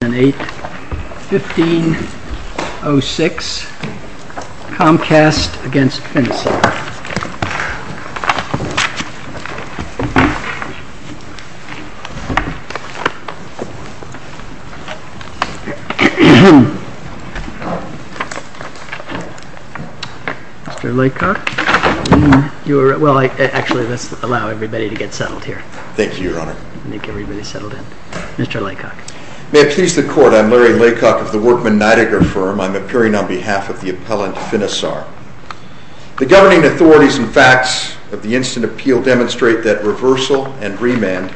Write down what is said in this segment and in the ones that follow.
8-15-06 Comcast v. Finisar Mr. Laycock, you are, well actually let's allow everybody to get settled here. Thank you your honor. I think everybody's settled in. Mr. Laycock. May it please the court, I'm Larry Laycock of the Workman Nidegger firm. I'm appearing on behalf of the appellant Finisar. The governing authorities and facts of the instant appeal demonstrate that reversal and remand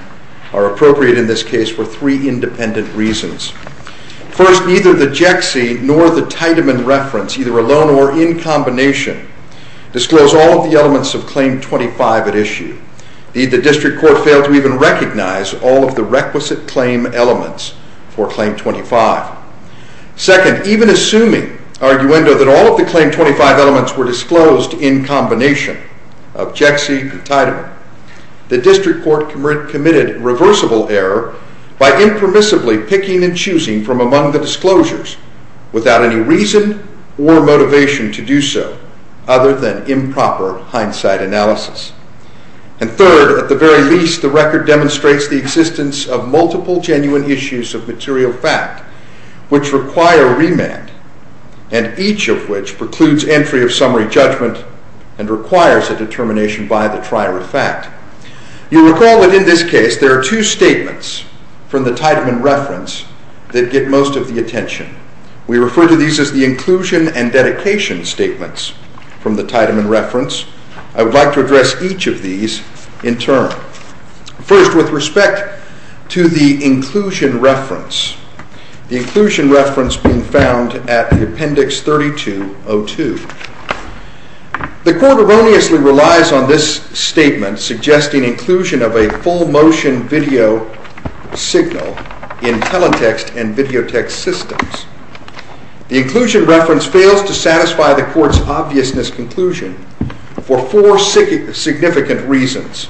are appropriate in this case for three independent reasons. First, neither the Jexie nor the Tiedemann reference, either alone or in combination, disclose all of the elements of Claim 25 at issue. The district court failed to even recognize all of the requisite claim elements for Claim 25. Second, even assuming, arguendo, that all of the Claim 25 elements were disclosed in combination of Jexie and Tiedemann, the district court committed reversible error by impermissibly picking and choosing from among the disclosures without any reason or motivation to do so, other than improper hindsight analysis. And third, at the very least, the record demonstrates the existence of multiple genuine issues of material fact which require remand, and each of which precludes entry of summary judgment and requires a determination by the trier of fact. You'll recall that in this case there are two statements from the Tiedemann reference that get most of the attention. We refer to these as the inclusion and dedication statements from the Tiedemann reference. I would like to address each of these in turn. First, with respect to the inclusion reference, the inclusion reference being found at Appendix 3202. The court erroneously relies on this statement suggesting inclusion of a full motion video signal in teletext and videotext systems. The inclusion reference fails to satisfy the court's obviousness conclusion for four significant reasons.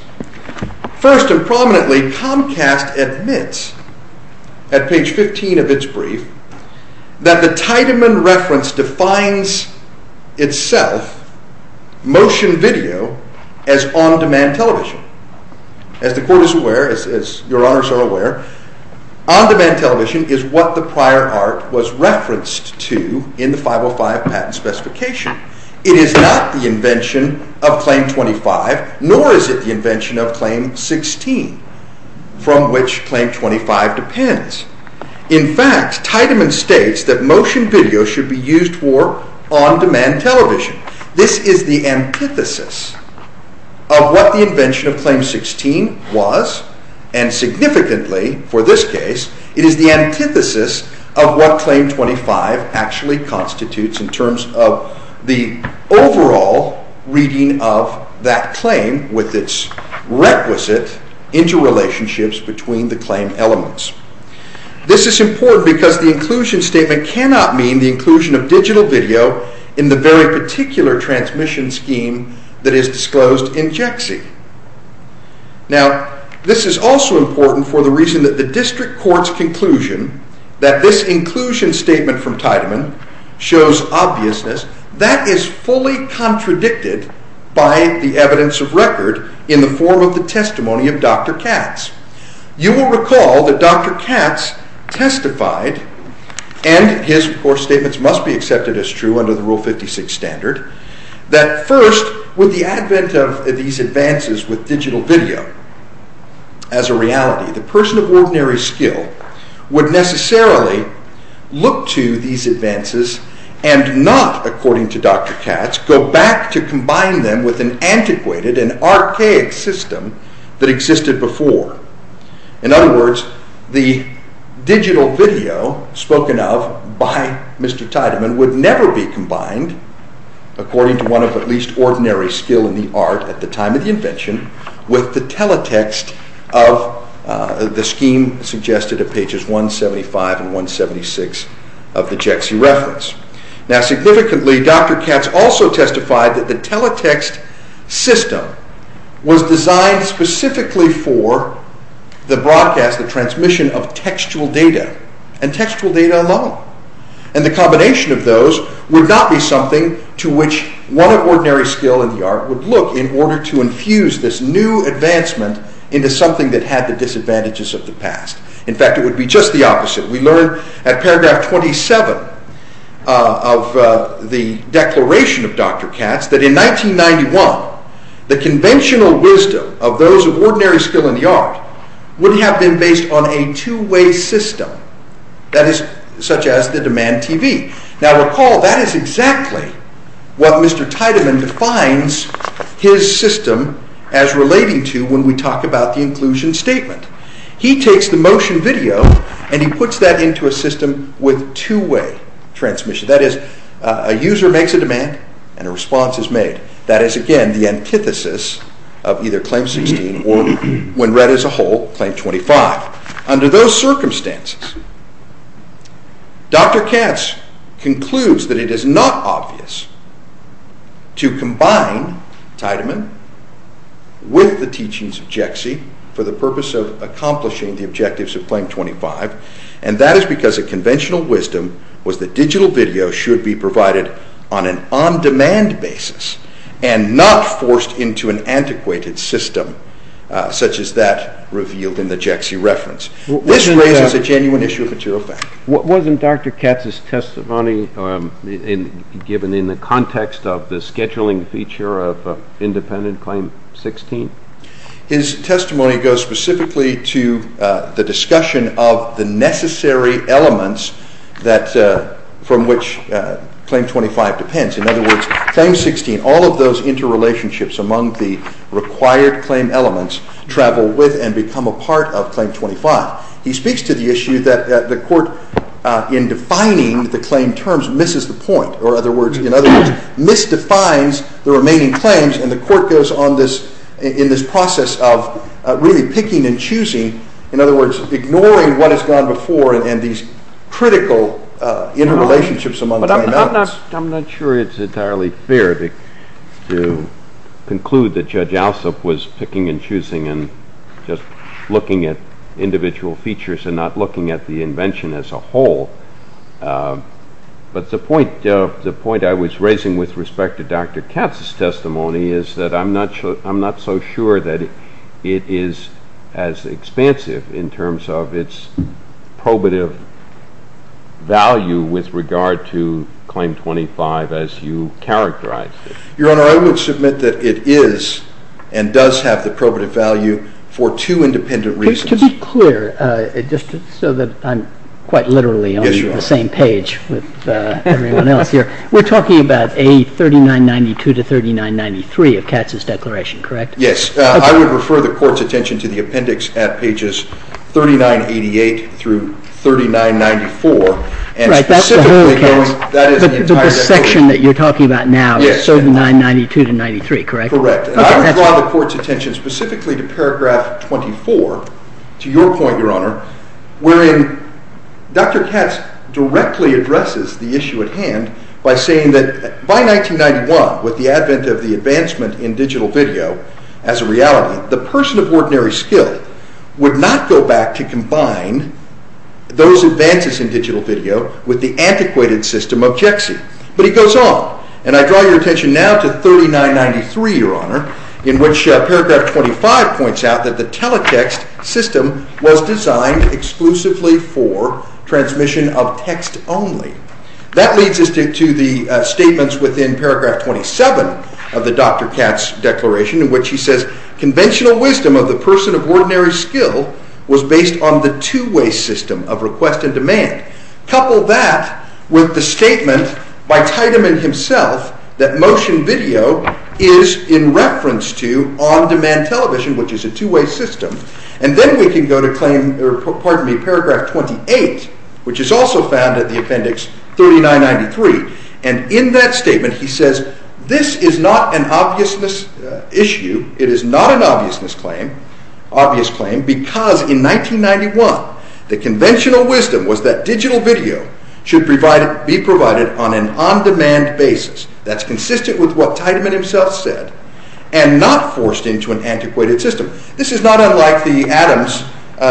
First and prominently, Comcast admits at page 15 of its brief that the Tiedemann reference defines itself, motion video, as on-demand television. As the court is aware, as your honors are aware, on-demand television is what the prior art was referenced to in the 505 patent specification. It is not the invention of Claim 25, nor is it the invention of Claim 16, from which Claim 25 depends. In fact, Tiedemann states that motion video should be used for on-demand television. This is the antithesis of what the invention of Claim 16 was, and significantly, for this case, it is the antithesis of what Claim 25 actually constitutes in terms of the overall reading of that claim with its requisite interrelationships between the claim elements. This is important because the inclusion statement cannot mean the inclusion of digital video in the very particular transmission scheme that is disclosed in JEXI. Now, this is also important for the reason that the district court's conclusion that this inclusion statement from Tiedemann shows obviousness, that is fully contradicted by the evidence of record in the form of the testimony of Dr. Katz. You will recall that Dr. Katz testified, and his core statements must be accepted as true under the Rule 56 standard, that first, with the advent of these advances with digital video as a reality, the person of ordinary skill would necessarily look to these advances and not, according to Dr. Katz, go back to combine them with an antiquated and archaic system that existed before. In other words, the digital video spoken of by Mr. Tiedemann would never be combined, according to one of at least ordinary skill in the art at the time of the invention, with the teletext of the scheme suggested at pages 175 and 176 of the JEXI reference. Now, significantly, Dr. Katz also testified that the teletext system was designed specifically for the broadcast, the transmission of textual data, and textual data alone, and the combination of those would not be something to which one of ordinary skill in the art would look in order to infuse this new advancement into something that had the disadvantages of the past. In fact, it would be just the opposite. We learn at paragraph 27 of the declaration of Dr. Katz that in 1991, the conventional wisdom of those of ordinary skill in the art would have been based on a two-way system, such as the demand TV. Now, recall, that is exactly what Mr. Tiedemann defines his system as relating to when we talk about the inclusion statement. He takes the motion video and he puts that into a system with two-way transmission. That is, a user makes a demand and a response is made. That is, again, the antithesis of either Claim 16 or, when read as a whole, Claim 25. Under those circumstances, Dr. Katz concludes that it is not obvious to combine Tiedemann with the teachings of Jexie for the purpose of accomplishing the objectives of Claim 25, and that is because the conventional wisdom was that digital video should be provided on an on-demand basis and not forced into an antiquated system, such as that revealed in the Jexie reference. This raises a genuine issue of material fact. Wasn't Dr. Katz's testimony given in the context of the scheduling feature of independent Claim 16? His testimony goes specifically to the discussion of the necessary elements from which Claim 25 depends. In other words, Claim 16, all of those interrelationships among the required claim elements, travel with and become a part of Claim 25. He speaks to the issue that the Court, in defining the claim terms, misses the point, or, in other words, misdefines the remaining claims, and the Court goes on in this process of really picking and choosing, in other words, ignoring what has gone before and these critical interrelationships among the claim elements. I'm not sure it's entirely fair to conclude that Judge Alsop was picking and choosing and just looking at individual features and not looking at the invention as a whole. But the point I was raising with respect to Dr. Katz's testimony is that I'm not so sure that it is as expansive in terms of its probative value with regard to Claim 25 as you characterized it. Your Honor, I would submit that it is and does have the probative value for two independent reasons. To be clear, just so that I'm quite literally on the same page with everyone else here, we're talking about A3992 to A3993 of Katz's declaration, correct? Yes. I would refer the Court's attention to the appendix at pages 3988 through 3994. But the section that you're talking about now is A3992 to A3993, correct? Correct. And I would draw the Court's attention specifically to paragraph 24, to your point, Your Honor, wherein Dr. Katz directly addresses the issue at hand by saying that by 1991, with the advent of the advancement in digital video as a reality, the person of ordinary skill would not go back to combine those advances in digital video with the antiquated system of Jexie. But he goes on, and I draw your attention now to A3993, Your Honor, in which paragraph 25 points out that the teletext system was designed exclusively for transmission of text only. That leads us to the statements within paragraph 27 of the Dr. Katz declaration in which he says conventional wisdom of the person of ordinary skill was based on the two-way system of request and demand. Couple that with the statement by Teitman himself that motion video is in reference to on-demand television, which is a two-way system. And then we can go to paragraph 28, which is also found in the appendix A3993. And in that statement, he says this is not an obviousness issue. It is not an obviousness claim, obvious claim, because in 1991, the conventional wisdom was that digital video should be provided on an on-demand basis. That's consistent with what Teitman himself said, and not forced into an antiquated system. This is not unlike the Adams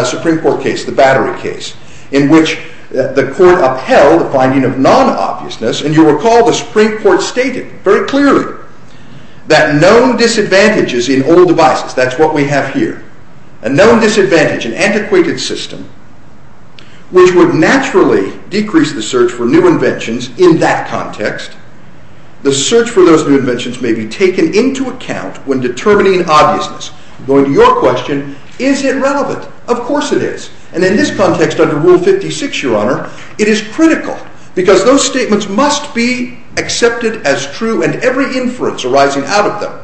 Supreme Court case, the battery case, in which the court upheld the finding of non-obviousness. And you'll recall the Supreme Court stated very clearly that known disadvantages in old devices, that's what we have here, a known disadvantage in antiquated system, which would naturally decrease the search for new inventions in that context. The search for those new inventions may be taken into account when determining obviousness. Going to your question, is it relevant? Of course it is. And in this context, under Rule 56, Your Honor, it is critical, because those statements must be accepted as true, and every inference arising out of them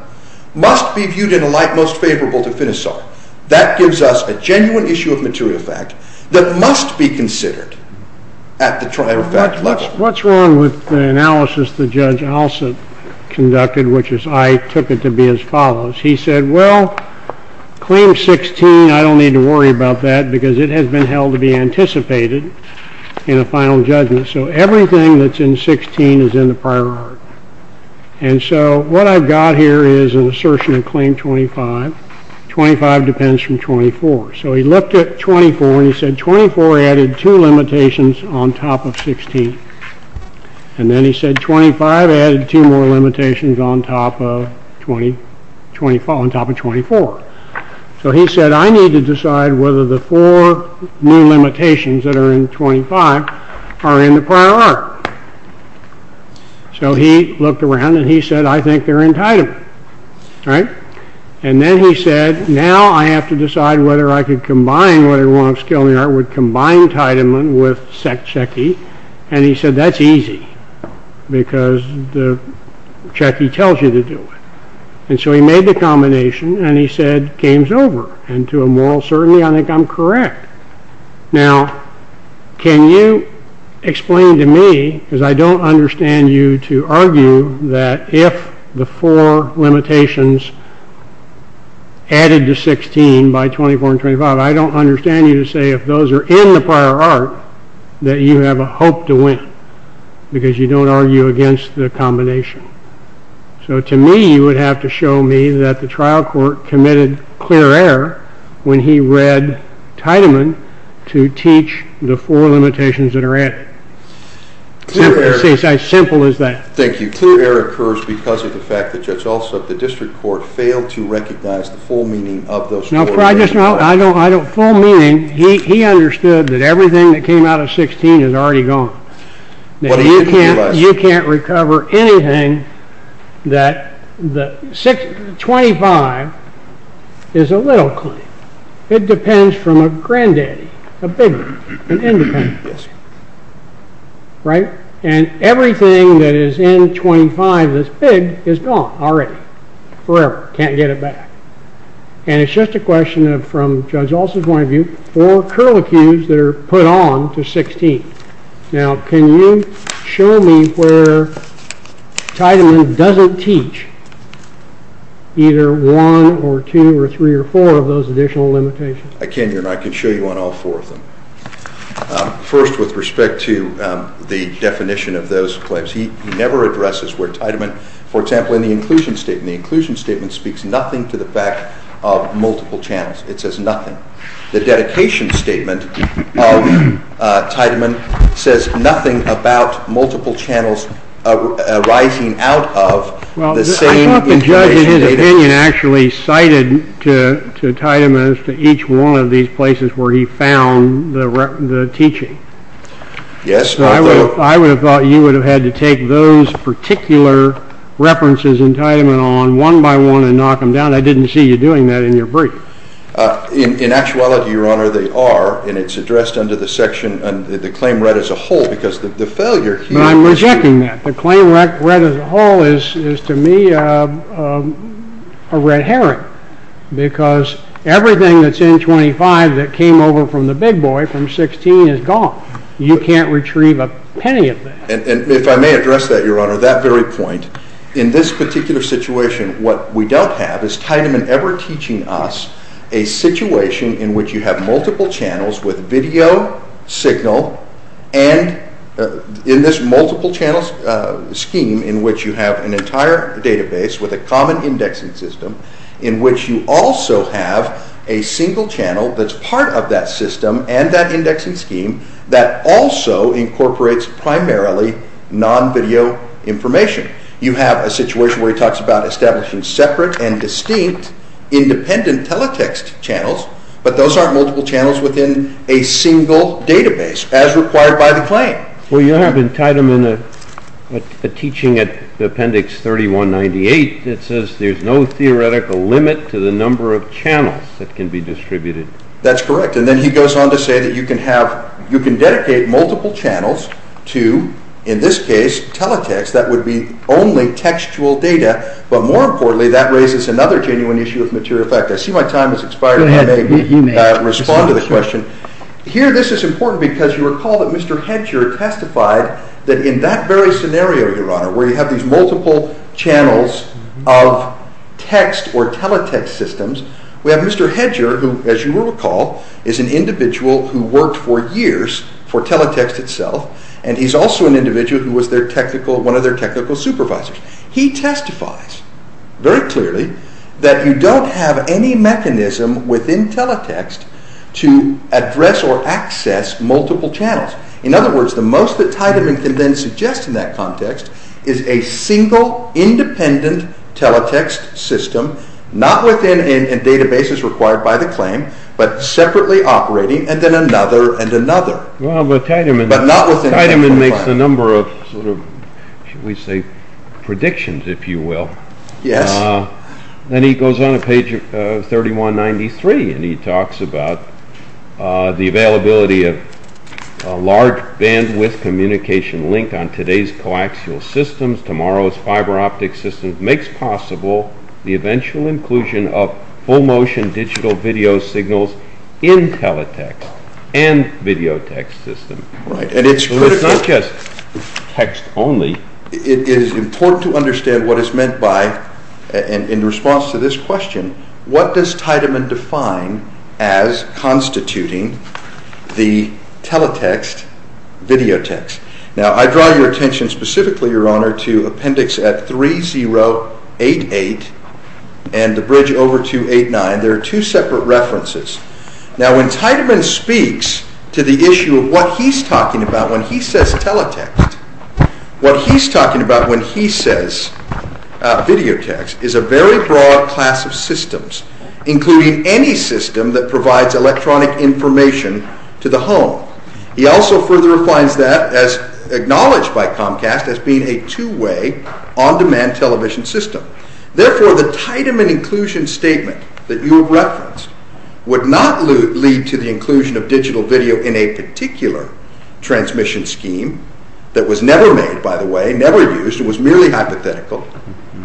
must be viewed in a light most favorable to Finisot. That gives us a genuine issue of material fact that must be considered at the trier fact level. What's wrong with the analysis that Judge Alsop conducted, which is I took it to be as follows? He said, well, Claim 16, I don't need to worry about that, because it has been held to be anticipated in a final judgment. So everything that's in 16 is in the prior art. And so what I've got here is an assertion of Claim 25. 25 depends from 24. So he looked at 24, and he said 24 added two limitations on top of 16. And then he said 25 added two more limitations on top of 24. So he said, I need to decide whether the four new limitations that are in 25 are in the prior art. So he looked around, and he said, I think they're in Teiteman. And then he said, now I have to decide whether I could combine, would combine Teiteman with Cechi. And he said, that's easy, because the Cechi tells you to do it. And so he made the combination, and he said, game's over. And to a moral certainty, I think I'm correct. Now, can you explain to me, because I don't understand you to argue that if the four limitations added to 16 by 24 and 25, I don't understand you to say if those are in the prior art that you have a hope to win, because you don't argue against the combination. So to me, you would have to show me that the trial court committed clear error when he read Teiteman to teach the four limitations that are added. It's as simple as that. Thank you. Clear error occurs because of the fact that Judge Alsop, the district court, failed to recognize the full meaning of those four limitations. Full meaning, he understood that everything that came out of 16 is already gone. You can't recover anything that 25 is a little claim. It depends from a granddaddy, a big one, an independent. And everything that is in 25 that's big is gone already, forever, can't get it back. And it's just a question from Judge Alsop's point of view for curlicues that are put on to 16. Now, can you show me where Teiteman doesn't teach either one or two or three or four of those additional limitations? I can, Your Honor. I can show you on all four of them. First, with respect to the definition of those claims, he never addresses where Teiteman, for example, in the inclusion statement. The inclusion statement speaks nothing to the fact of multiple channels. It says nothing. The dedication statement of Teiteman says nothing about multiple channels arising out of the same information data. Well, I thought the judge, in his opinion, actually cited to Teiteman as to each one of these places where he found the teaching. Yes. So I would have thought you would have had to take those particular references in Teiteman on one by one and knock them down. I didn't see you doing that in your brief. In actuality, Your Honor, they are, and it's addressed under the section, the claim read as a whole, because the failure here— But I'm rejecting that. The claim read as a whole is, to me, a red herring, because everything that's in 25 that came over from the big boy from 16 is gone. You can't retrieve a penny of that. And if I may address that, Your Honor, that very point, in this particular situation, what we don't have is Teiteman ever teaching us a situation in which you have multiple channels with video, signal, and in this multiple-channel scheme in which you have an entire database with a common indexing system in which you also have a single channel that's part of that system and that indexing scheme that also incorporates primarily non-video information. You have a situation where he talks about establishing separate and distinct independent teletext channels, but those aren't multiple channels within a single database, as required by the claim. Well, you have in Teiteman a teaching at Appendix 3198 that says there's no theoretical limit to the number of channels that can be distributed. That's correct. And then he goes on to say that you can dedicate multiple channels to, in this case, teletext. That would be only textual data. But more importantly, that raises another genuine issue of material fact. I see my time has expired, and I may respond to the question. Here, this is important because you recall that Mr. Hedger testified that in that very scenario, Your Honor, where you have these multiple channels of text or teletext systems, we have Mr. Hedger, who, as you will recall, is an individual who worked for years for teletext itself, and he's also an individual who was one of their technical supervisors. He testifies very clearly that you don't have any mechanism within teletext to address or access multiple channels. In other words, the most that Teiteman can then suggest in that context is a single, independent teletext system, not within databases required by the claim, but separately operating, and then another and another. Well, Teiteman makes a number of, shall we say, predictions, if you will. Then he goes on to page 3193, and he talks about the availability of a large bandwidth communication link on today's coaxial systems, tomorrow's fiber optic systems, makes possible the eventual inclusion of full motion digital video signals in teletext and videotext systems. So it's not just text only. It is important to understand what is meant by, in response to this question, what does Teiteman define as constituting the teletext videotext? Now, I draw your attention specifically, Your Honor, to appendix 3088 and the bridge over 289. There are two separate references. Now, when Teiteman speaks to the issue of what he's talking about when he says teletext, what he's talking about when he says videotext is a very broad class of systems, including any system that provides electronic information to the home. He also further defines that as acknowledged by Comcast as being a two-way on-demand television system. Therefore, the Teiteman inclusion statement that you have referenced would not lead to the inclusion of digital video in a particular transmission scheme that was never made, by the way, never used. It was merely hypothetical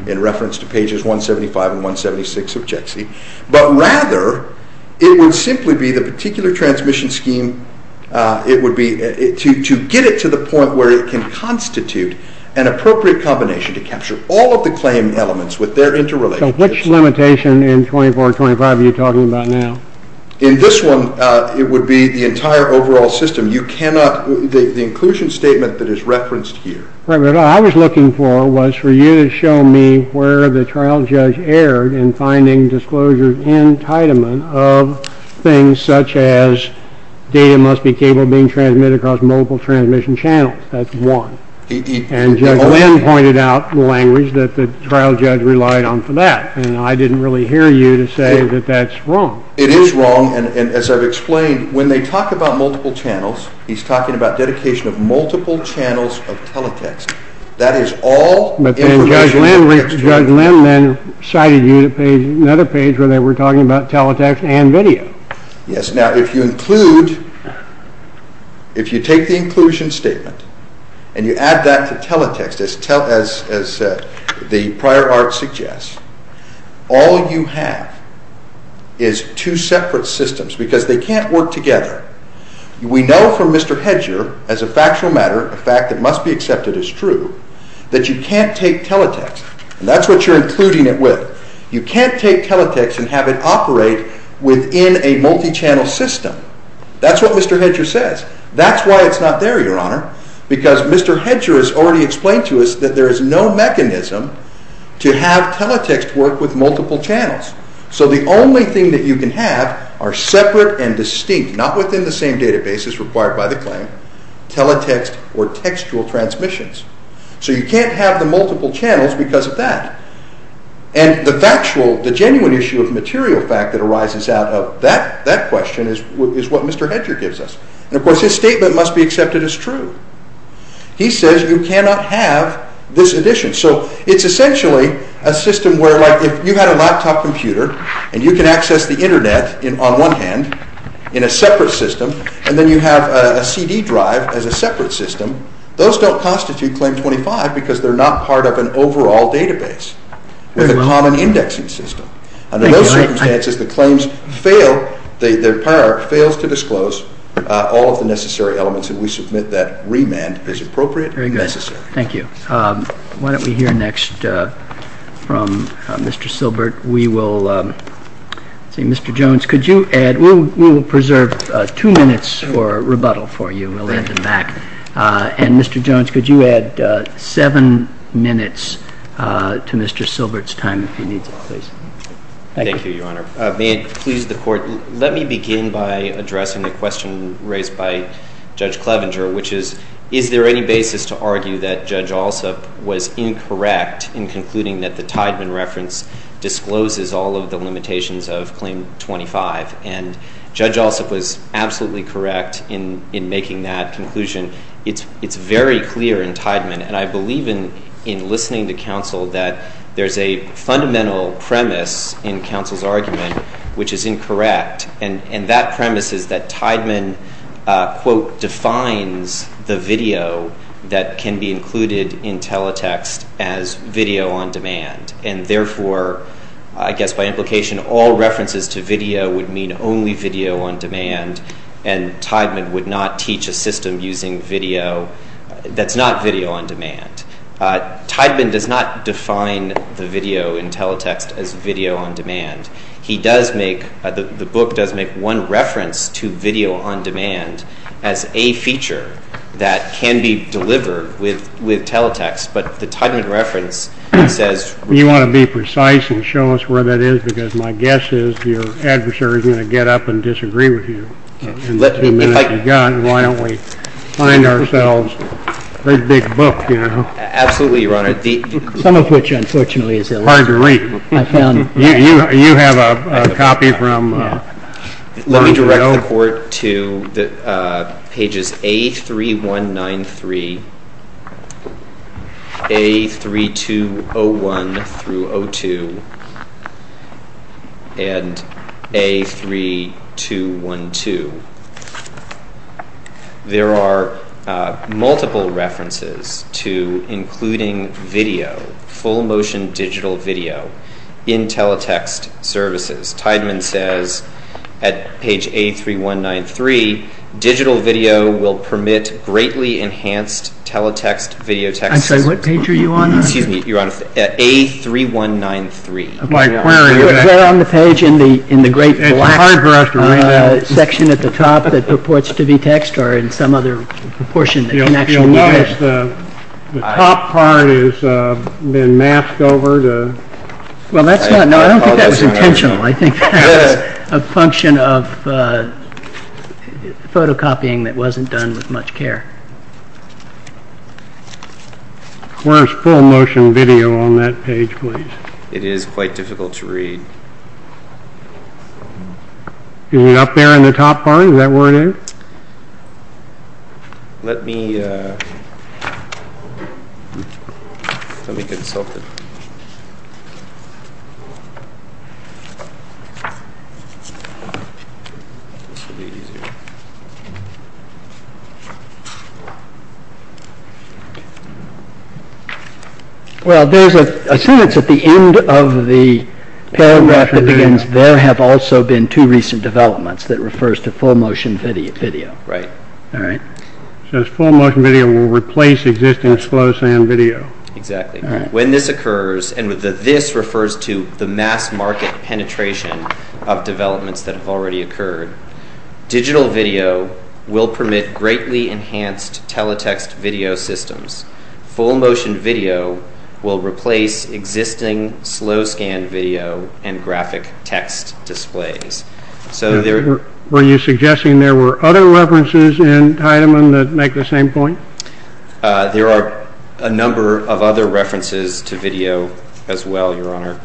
in reference to pages 175 and 176 of JXE. But rather, it would simply be the particular transmission scheme, to get it to the point where it can constitute an appropriate combination to capture all of the claim elements with their interrelations. So which limitation in 2425 are you talking about now? In this one, it would be the entire overall system. You cannot, the inclusion statement that is referenced here. What I was looking for was for you to show me where the trial judge erred in finding disclosures in Teiteman of things such as data must be capable of being transmitted across multiple transmission channels. That's one. And Judge Glenn pointed out the language that the trial judge relied on for that, and I didn't really hear you to say that that's wrong. It is wrong, and as I've explained, when they talk about multiple channels, he's talking about dedication of multiple channels of teletext. That is all information in the text. But then Judge Glenn then cited you to another page where they were talking about teletext and video. Yes. Now, if you include, if you take the inclusion statement and you add that to teletext, as the prior art suggests, all you have is two separate systems because they can't work together. We know from Mr. Hedger, as a factual matter, a fact that must be accepted as true, that you can't take teletext, and that's what you're including it with. You can't take teletext and have it operate within a multi-channel system. That's what Mr. Hedger says. That's why it's not there, Your Honor, because Mr. Hedger has already explained to us that there is no mechanism to have teletext work with multiple channels. So the only thing that you can have are separate and distinct, not within the same databases required by the claim, teletext or textual transmissions. So you can't have the multiple channels because of that. And the factual, the genuine issue of material fact that arises out of that question is what Mr. Hedger gives us. And, of course, his statement must be accepted as true. He says you cannot have this addition. So it's essentially a system where, like, if you had a laptop computer and you can access the Internet on one hand in a separate system and then you have a CD drive as a separate system, those don't constitute Claim 25 because they're not part of an overall database with a common indexing system. Under those circumstances, the claim fails to disclose all of the necessary elements that we submit that remand is appropriate and necessary. Very good. Thank you. Why don't we hear next from Mr. Silbert. We will see. Mr. Jones, could you add? We will preserve two minutes for rebuttal for you. We'll add them back. And, Mr. Jones, could you add seven minutes to Mr. Silbert's time if he needs it, please? Thank you, Your Honor. May it please the Court, let me begin by addressing the question raised by Judge Clevenger, which is, is there any basis to argue that Judge Alsup was incorrect in concluding that the Tiedman reference discloses all of the limitations of Claim 25? And Judge Alsup was absolutely correct in making that conclusion. It's very clear in Tiedman, and I believe in listening to counsel, that there's a fundamental premise in counsel's argument which is incorrect, and that premise is that Tiedman, quote, defines the video that can be included in teletext as video on demand, and therefore, I guess by implication, all references to video would mean only video on demand, and Tiedman would not teach a system using video that's not video on demand. Tiedman does not define the video in teletext as video on demand. He does make, the book does make one reference to video on demand as a feature that can be delivered with teletext, but the Tiedman reference says. You want to be precise and show us where that is, because my guess is your adversary is going to get up and disagree with you in the two minutes you've got, and why don't we find ourselves a big book, you know? Absolutely, Your Honor. Some of which, unfortunately, is hard to read. You have a copy from? Let me direct the court to pages A3193, A3201-02, and A3212. There are multiple references to including video, full motion digital video, in teletext services. Tiedman says at page A3193, digital video will permit greatly enhanced teletext video text. I'm sorry, what page are you on? Excuse me, Your Honor, A3193. Is there on the page in the great black section at the top that purports to be text, or in some other portion that can actually be text? You'll notice the top part has been masked over. Well, that's not, no, I don't think that was intentional. I think that was a function of photocopying that wasn't done with much care. Where's full motion video on that page, please? It is quite difficult to read. Is it up there in the top part? Is that where it is? Let me consult it. Well, there's a sentence at the end of the paragraph that begins, there have also been two recent developments that refers to full motion video. Right. All right. It says full motion video will replace existing slow sound video. Exactly. When this occurs, and the this refers to the mass market penetration of developments that have already occurred, digital video will permit greatly enhanced teletext video systems. Full motion video will replace existing slow scan video and graphic text displays. Were you suggesting there were other references in Teitman that make the same point? There are a number of other references to video as well, Your Honor.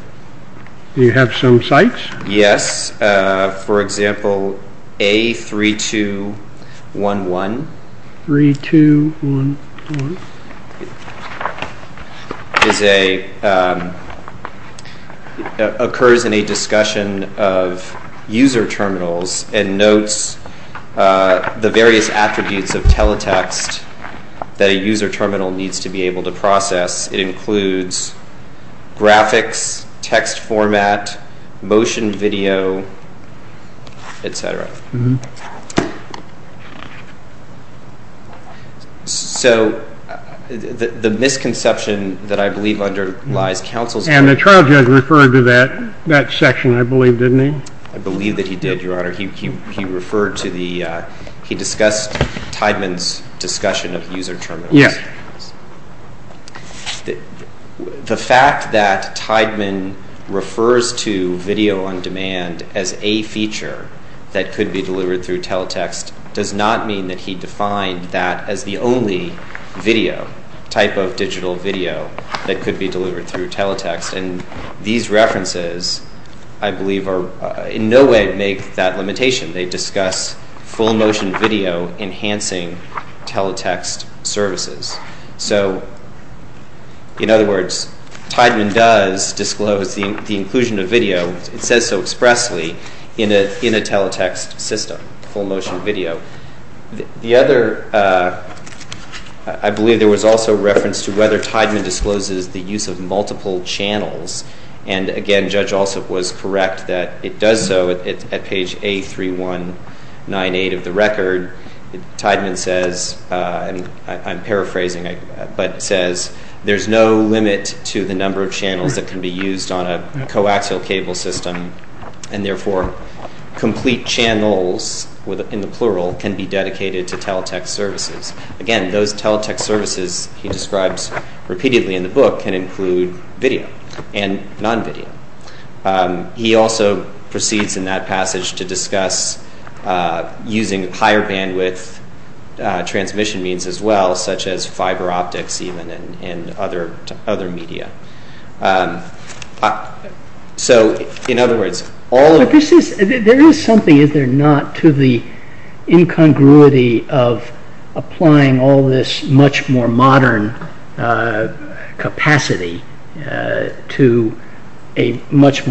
Do you have some sites? Yes. For example, A3211 occurs in a discussion of user terminals and notes the various attributes of teletext that a user terminal needs to be able to process. It includes graphics, text format, motion video, et cetera. So the misconception that I believe underlies counsel's point. And the trial judge referred to that section, I believe, didn't he? I believe that he did, Your Honor. He discussed Teitman's discussion of user terminals. Yes. The fact that Teitman refers to video on demand as a feature that could be delivered through teletext does not mean that he defined that as the only video, type of digital video, that could be delivered through teletext. And these references, I believe, in no way make that limitation. They discuss full motion video enhancing teletext services. So, in other words, Teitman does disclose the inclusion of video. It says so expressly in a teletext system, full motion video. The other, I believe there was also reference to whether Teitman discloses the use of multiple channels. And, again, Judge Alsop was correct that it does so at page A3198 of the record. Teitman says, and I'm paraphrasing, but says, there's no limit to the number of channels that can be used on a coaxial cable system, and, therefore, complete channels, in the plural, can be dedicated to teletext services. Again, those teletext services he describes repeatedly in the book can include video and non-video. He also proceeds in that passage to discuss using higher bandwidth transmission means as well, such as fiber optics even and other media. So, in other words, all of this is... There is something, is there not, to the incongruity of applying all this much more modern capacity to a much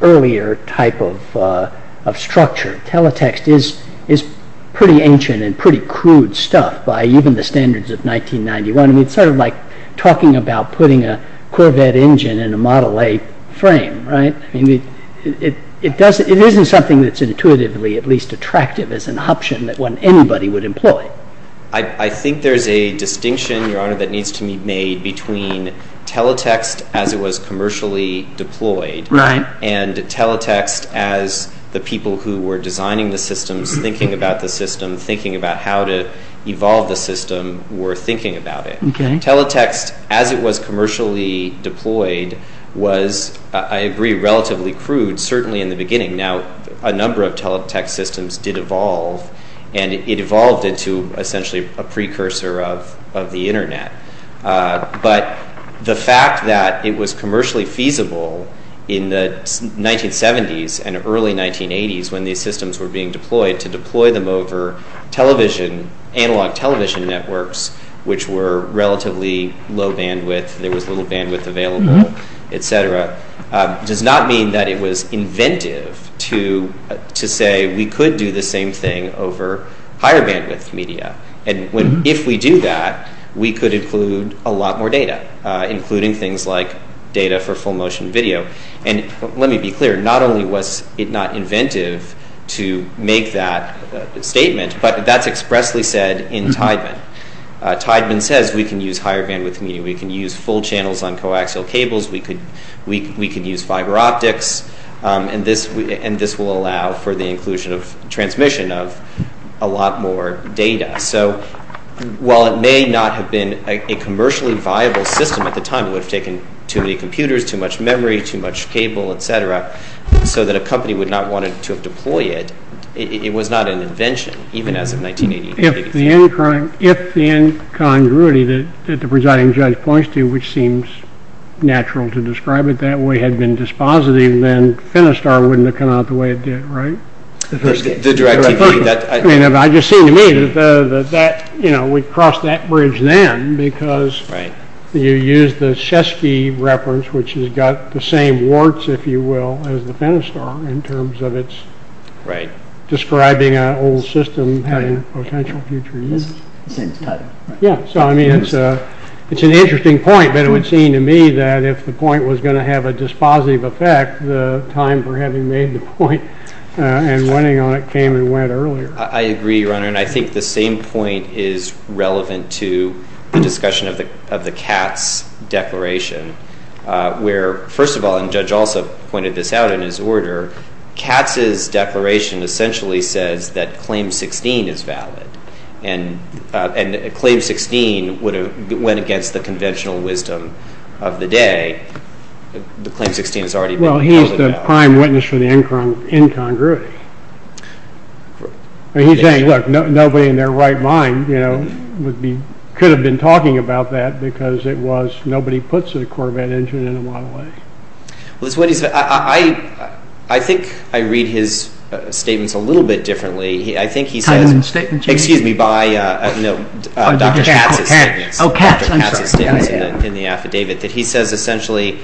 earlier type of structure. Teletext is pretty ancient and pretty crude stuff by even the standards of 1991. I mean, it's sort of like talking about putting a Corvette engine in a Model A frame, right? It isn't something that's intuitively at least attractive as an option that anybody would employ. I think there's a distinction, Your Honor, that needs to be made between teletext as it was commercially deployed and teletext as the people who were designing the systems, thinking about the system, thinking about how to evolve the system were thinking about it. Teletext, as it was commercially deployed, was, I agree, relatively crude, certainly in the beginning. Now, a number of teletext systems did evolve, and it evolved into essentially a precursor of the Internet. But the fact that it was commercially feasible in the 1970s and early 1980s when these systems were being deployed, to deploy them over television, analog television networks, which were relatively low bandwidth, there was little bandwidth available, et cetera, does not mean that it was inventive to say we could do the same thing over higher bandwidth media. If we do that, we could include a lot more data, including things like data for full motion video. And let me be clear, not only was it not inventive to make that statement, but that's expressly said in Tideman. Tideman says we can use higher bandwidth media, we can use full channels on coaxial cables, we could use fiber optics, and this will allow for the inclusion of transmission of a lot more data. So while it may not have been a commercially viable system at the time, it would have taken too many computers, too much memory, too much cable, et cetera, so that a company would not have wanted to deploy it, it was not an invention, even as of 1980. If the incongruity that the presiding judge points to, which seems natural to describe it that way, had been dispositive, then Finistar wouldn't have come out the way it did, right? I mean, it just seemed to me that we'd cross that bridge then, because you use the Chesky reference, which has got the same warts, if you will, as the Finistar, in terms of it's describing an old system having a potential future use. So I mean, it's an interesting point, but it would seem to me that if the point was going to have a dispositive effect, the time for having made the point and winning on it came and went earlier. I agree, Your Honor, and I think the same point is relevant to the discussion of the Katz declaration, where, first of all, and Judge also pointed this out in his order, Katz's declaration essentially says that Claim 16 is valid, and Claim 16 went against the conventional wisdom of the day. Well, he's the prime witness for the incongruity. He's saying, look, nobody in their right mind could have been talking about that because nobody puts a Corvette engine in a Model A. I think I read his statements a little bit differently. I think he says, excuse me, by Dr. Katz's statements in the affidavit, that he says essentially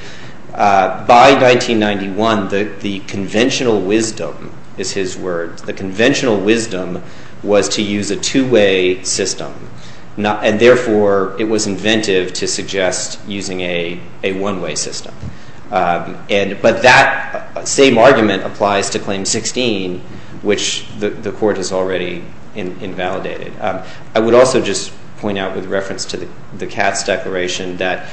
by 1991 the conventional wisdom is his words. The conventional wisdom was to use a two-way system, and therefore it was inventive to suggest using a one-way system. But that same argument applies to Claim 16, which the Court has already invalidated. I would also just point out with reference to the Katz declaration that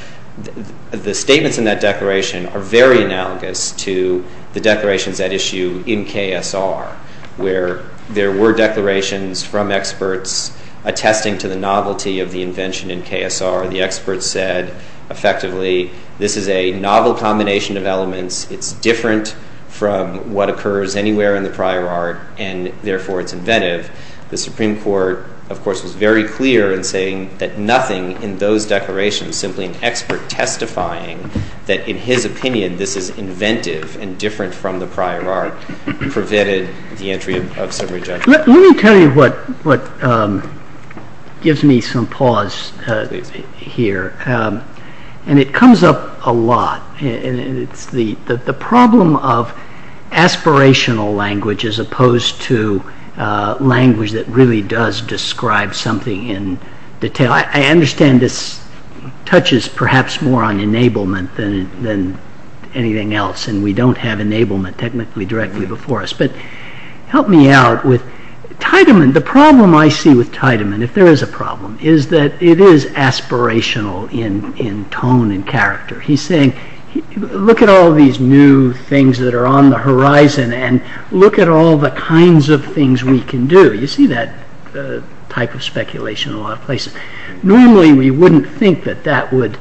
the statements in that declaration are very analogous to the declarations at issue in KSR, where there were declarations from experts attesting to the novelty of the invention in KSR. The experts said, effectively, this is a novel combination of elements. It's different from what occurs anywhere in the prior art, and therefore it's inventive. The Supreme Court, of course, was very clear in saying that nothing in those declarations, simply an expert testifying that in his opinion this is inventive and different from the prior art, prevented the entry of summary judgment. Let me tell you what gives me some pause here, and it comes up a lot. It's the problem of aspirational language as opposed to language that really does describe something in detail. I understand this touches perhaps more on enablement than anything else, and we don't have enablement technically directly before us. But help me out with Tiedemann. The problem I see with Tiedemann, if there is a problem, is that it is aspirational in tone and character. He's saying, look at all these new things that are on the horizon, and look at all the kinds of things we can do. You see that type of speculation in a lot of places. Normally we wouldn't think that that would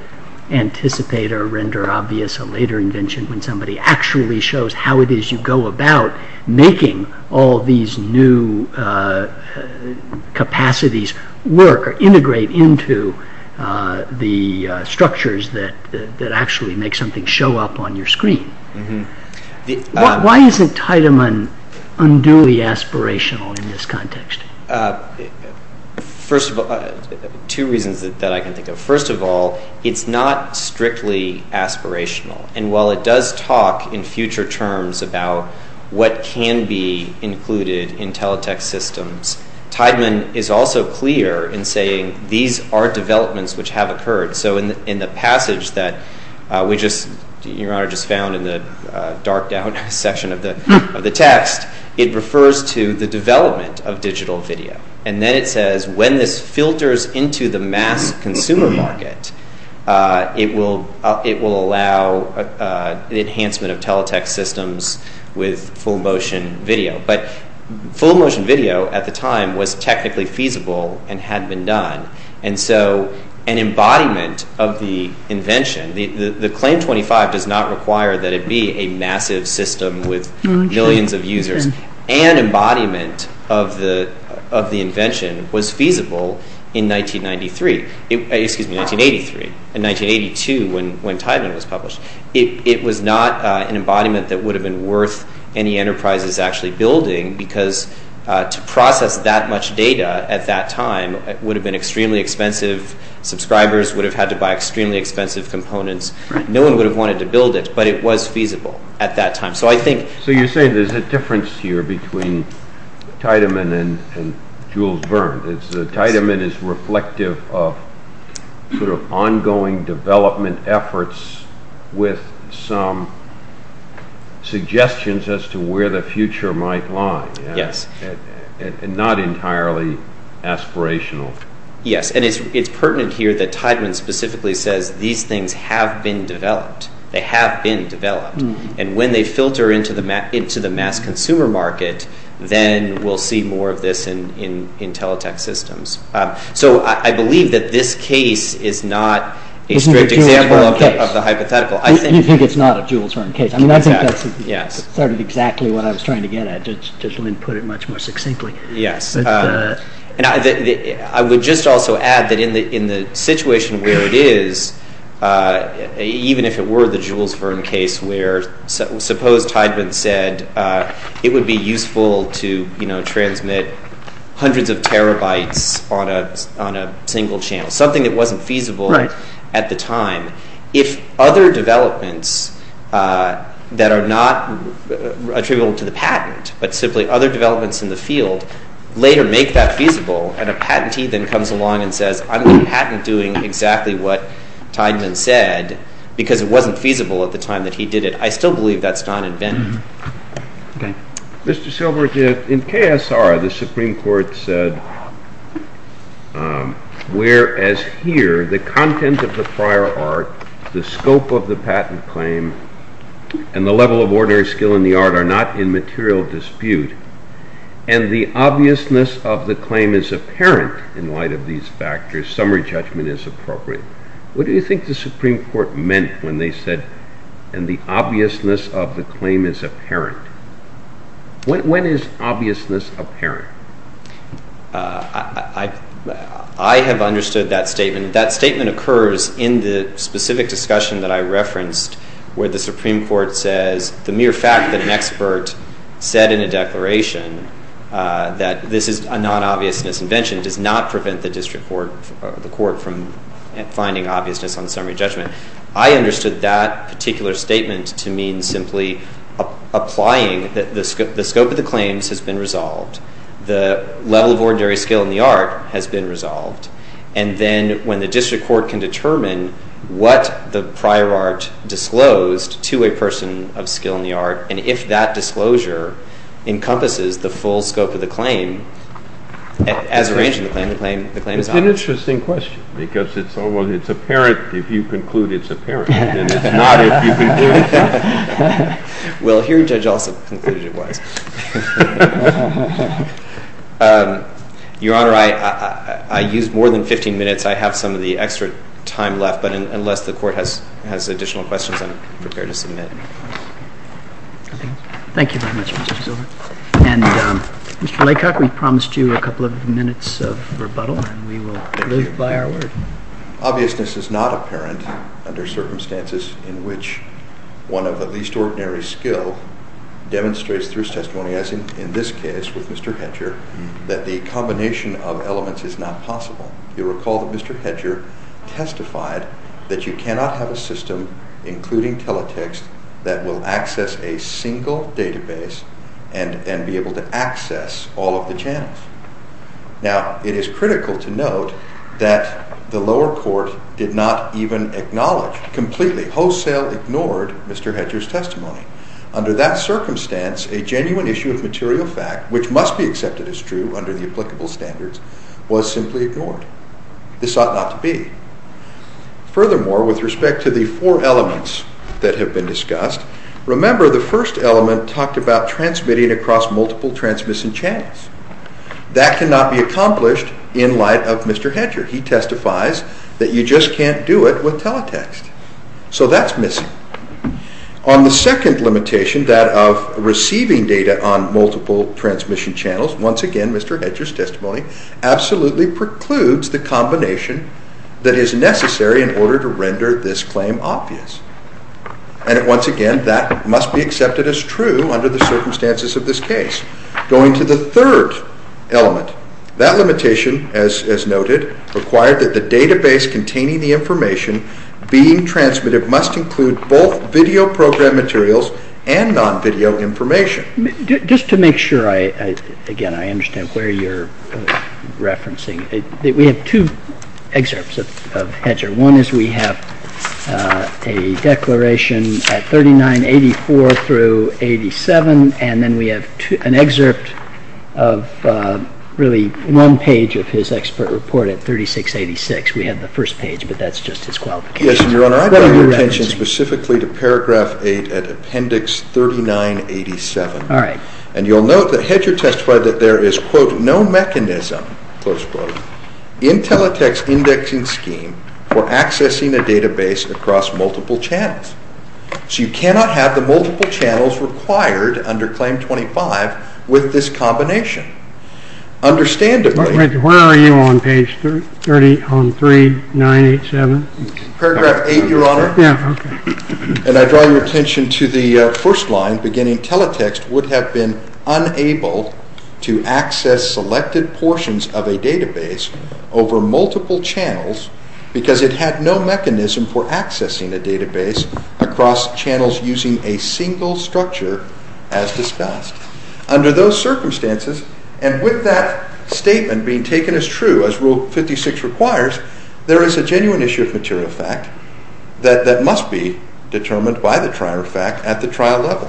anticipate or render obvious a later invention when somebody actually shows how it is you go about making all these new capacities work or integrate into the structures that actually make something show up on your screen. Why isn't Tiedemann unduly aspirational in this context? First of all, two reasons that I can think of. First of all, it's not strictly aspirational, and while it does talk in future terms about what can be included in teletext systems, Tiedemann is also clear in saying these are developments which have occurred. So in the passage that we just found in the darked-out section of the text, it refers to the development of digital video. And then it says when this filters into the mass consumer market, it will allow the enhancement of teletext systems with full motion video. But full motion video at the time was technically feasible and had been done. And so an embodiment of the invention, the Claim 25 does not require that it be a massive system with millions of users. An embodiment of the invention was feasible in 1983. Excuse me, 1983. In 1982 when Tiedemann was published. It was not an embodiment that would have been worth any enterprises actually building because to process that much data at that time would have been extremely expensive. Subscribers would have had to buy extremely expensive components. No one would have wanted to build it, but it was feasible at that time. So you're saying there's a difference here between Tiedemann and Jules Verne. Tiedemann is reflective of sort of ongoing development efforts with some suggestions as to where the future might lie. Yes. And not entirely aspirational. Yes, and it's pertinent here that Tiedemann specifically says these things have been developed. They have been developed. And when they filter into the mass consumer market, then we'll see more of this in teletext systems. So I believe that this case is not a strict example of the hypothetical. You think it's not a Jules Verne case. I mean, I think that's sort of exactly what I was trying to get at, to put it much more succinctly. Yes. And I would just also add that in the situation where it is, even if it were the Jules Verne case where suppose Tiedemann said it would be useful to transmit hundreds of terabytes on a single channel, something that wasn't feasible at the time, if other developments that are not attributable to the patent but simply other developments in the field later make that feasible, and a patentee then comes along and says, I'm going to patent doing exactly what Tiedemann said because it wasn't feasible at the time that he did it, I still believe that's not invented. Okay. Mr. Silberg, in KSR the Supreme Court said, whereas here the content of the prior art, the scope of the patent claim, and the level of ordinary skill in the art are not in material dispute, and the obviousness of the claim is apparent in light of these factors, summary judgment is appropriate. What do you think the Supreme Court meant when they said, and the obviousness of the claim is apparent? When is obviousness apparent? I have understood that statement. That statement occurs in the specific discussion that I referenced where the Supreme Court says the mere fact that an expert said in a declaration that this is a non-obvious misinvention does not prevent the district court or the court from finding obviousness on summary judgment. I understood that particular statement to mean simply applying that the scope of the claims has been resolved, the level of ordinary skill in the art has been resolved, and then when the district court can determine what the prior art disclosed to a person of skill in the art, and if that disclosure encompasses the full scope of the claim, as arranged in the claim, the claim is honest. It's an interesting question because it's almost apparent if you conclude it's apparent and it's not if you conclude it's not. Well, here Judge Alsop concluded it was. Your Honor, I used more than 15 minutes. I have some of the extra time left, but unless the Court has additional questions, I'm prepared to submit. Thank you very much, Mr. Zilber. And Mr. Laycock, we promised you a couple of minutes of rebuttal, and we will live by our word. Obviousness is not apparent under circumstances in which one of the least ordinary skill demonstrates through testimony, as in this case with Mr. Hedger, that the combination of elements is not possible. You'll recall that Mr. Hedger testified that you cannot have a system, including teletext, that will access a single database and be able to access all of the channels. Now, it is critical to note that the lower court did not even acknowledge, completely wholesale ignored Mr. Hedger's testimony. Under that circumstance, a genuine issue of material fact, which must be accepted as true under the applicable standards, was simply ignored. This ought not to be. Furthermore, with respect to the four elements that have been discussed, remember the first element talked about That cannot be accomplished in light of Mr. Hedger. He testifies that you just can't do it with teletext. So that's missing. On the second limitation, that of receiving data on multiple transmission channels, once again Mr. Hedger's testimony absolutely precludes the combination that is necessary in order to render this claim obvious. And once again, that must be accepted as true under the circumstances of this case. Going to the third element, that limitation, as noted, required that the database containing the information being transmitted must include both video program materials and non-video information. Just to make sure, again, I understand where you're referencing. We have two excerpts of Hedger. One is we have a declaration at 3984 through 87, and then we have an excerpt of really one page of his expert report at 3686. We have the first page, but that's just his qualification. Yes, Your Honor, I draw your attention specifically to paragraph 8 at appendix 3987. And you'll note that Hedger testified that there is, quote, there is no mechanism, close quote, in Teletext's indexing scheme for accessing a database across multiple channels. So you cannot have the multiple channels required under Claim 25 with this combination. Understandably... Where are you on page 3987? Paragraph 8, Your Honor. Yeah, okay. And I draw your attention to the first line, beginning Teletext would have been unable to access selected portions of a database over multiple channels because it had no mechanism for accessing a database across channels using a single structure as discussed. Under those circumstances, and with that statement being taken as true, as Rule 56 requires, there is a genuine issue of material fact that must be determined by the trial fact at the trial level.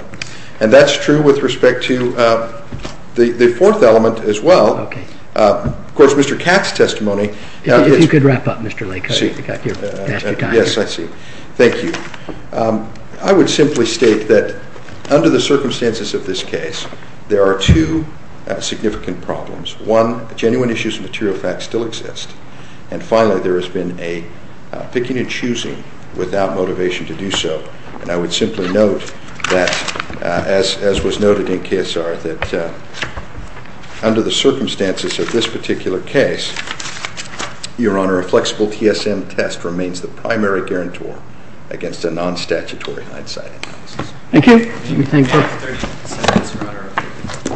And that's true with respect to the fourth element as well. Of course, Mr. Katz's testimony... If you could wrap up, Mr. Lake. Yes, I see. Thank you. I would simply state that under the circumstances of this case, there are two significant problems. One, genuine issues of material fact still exist. And finally, there has been a picking and choosing without motivation to do so. And I would simply note, as was noted in KSR, that under the circumstances of this particular case, Your Honor, a flexible TSM test remains the primary guarantor against a non-statutory hindsight analysis. Thank you.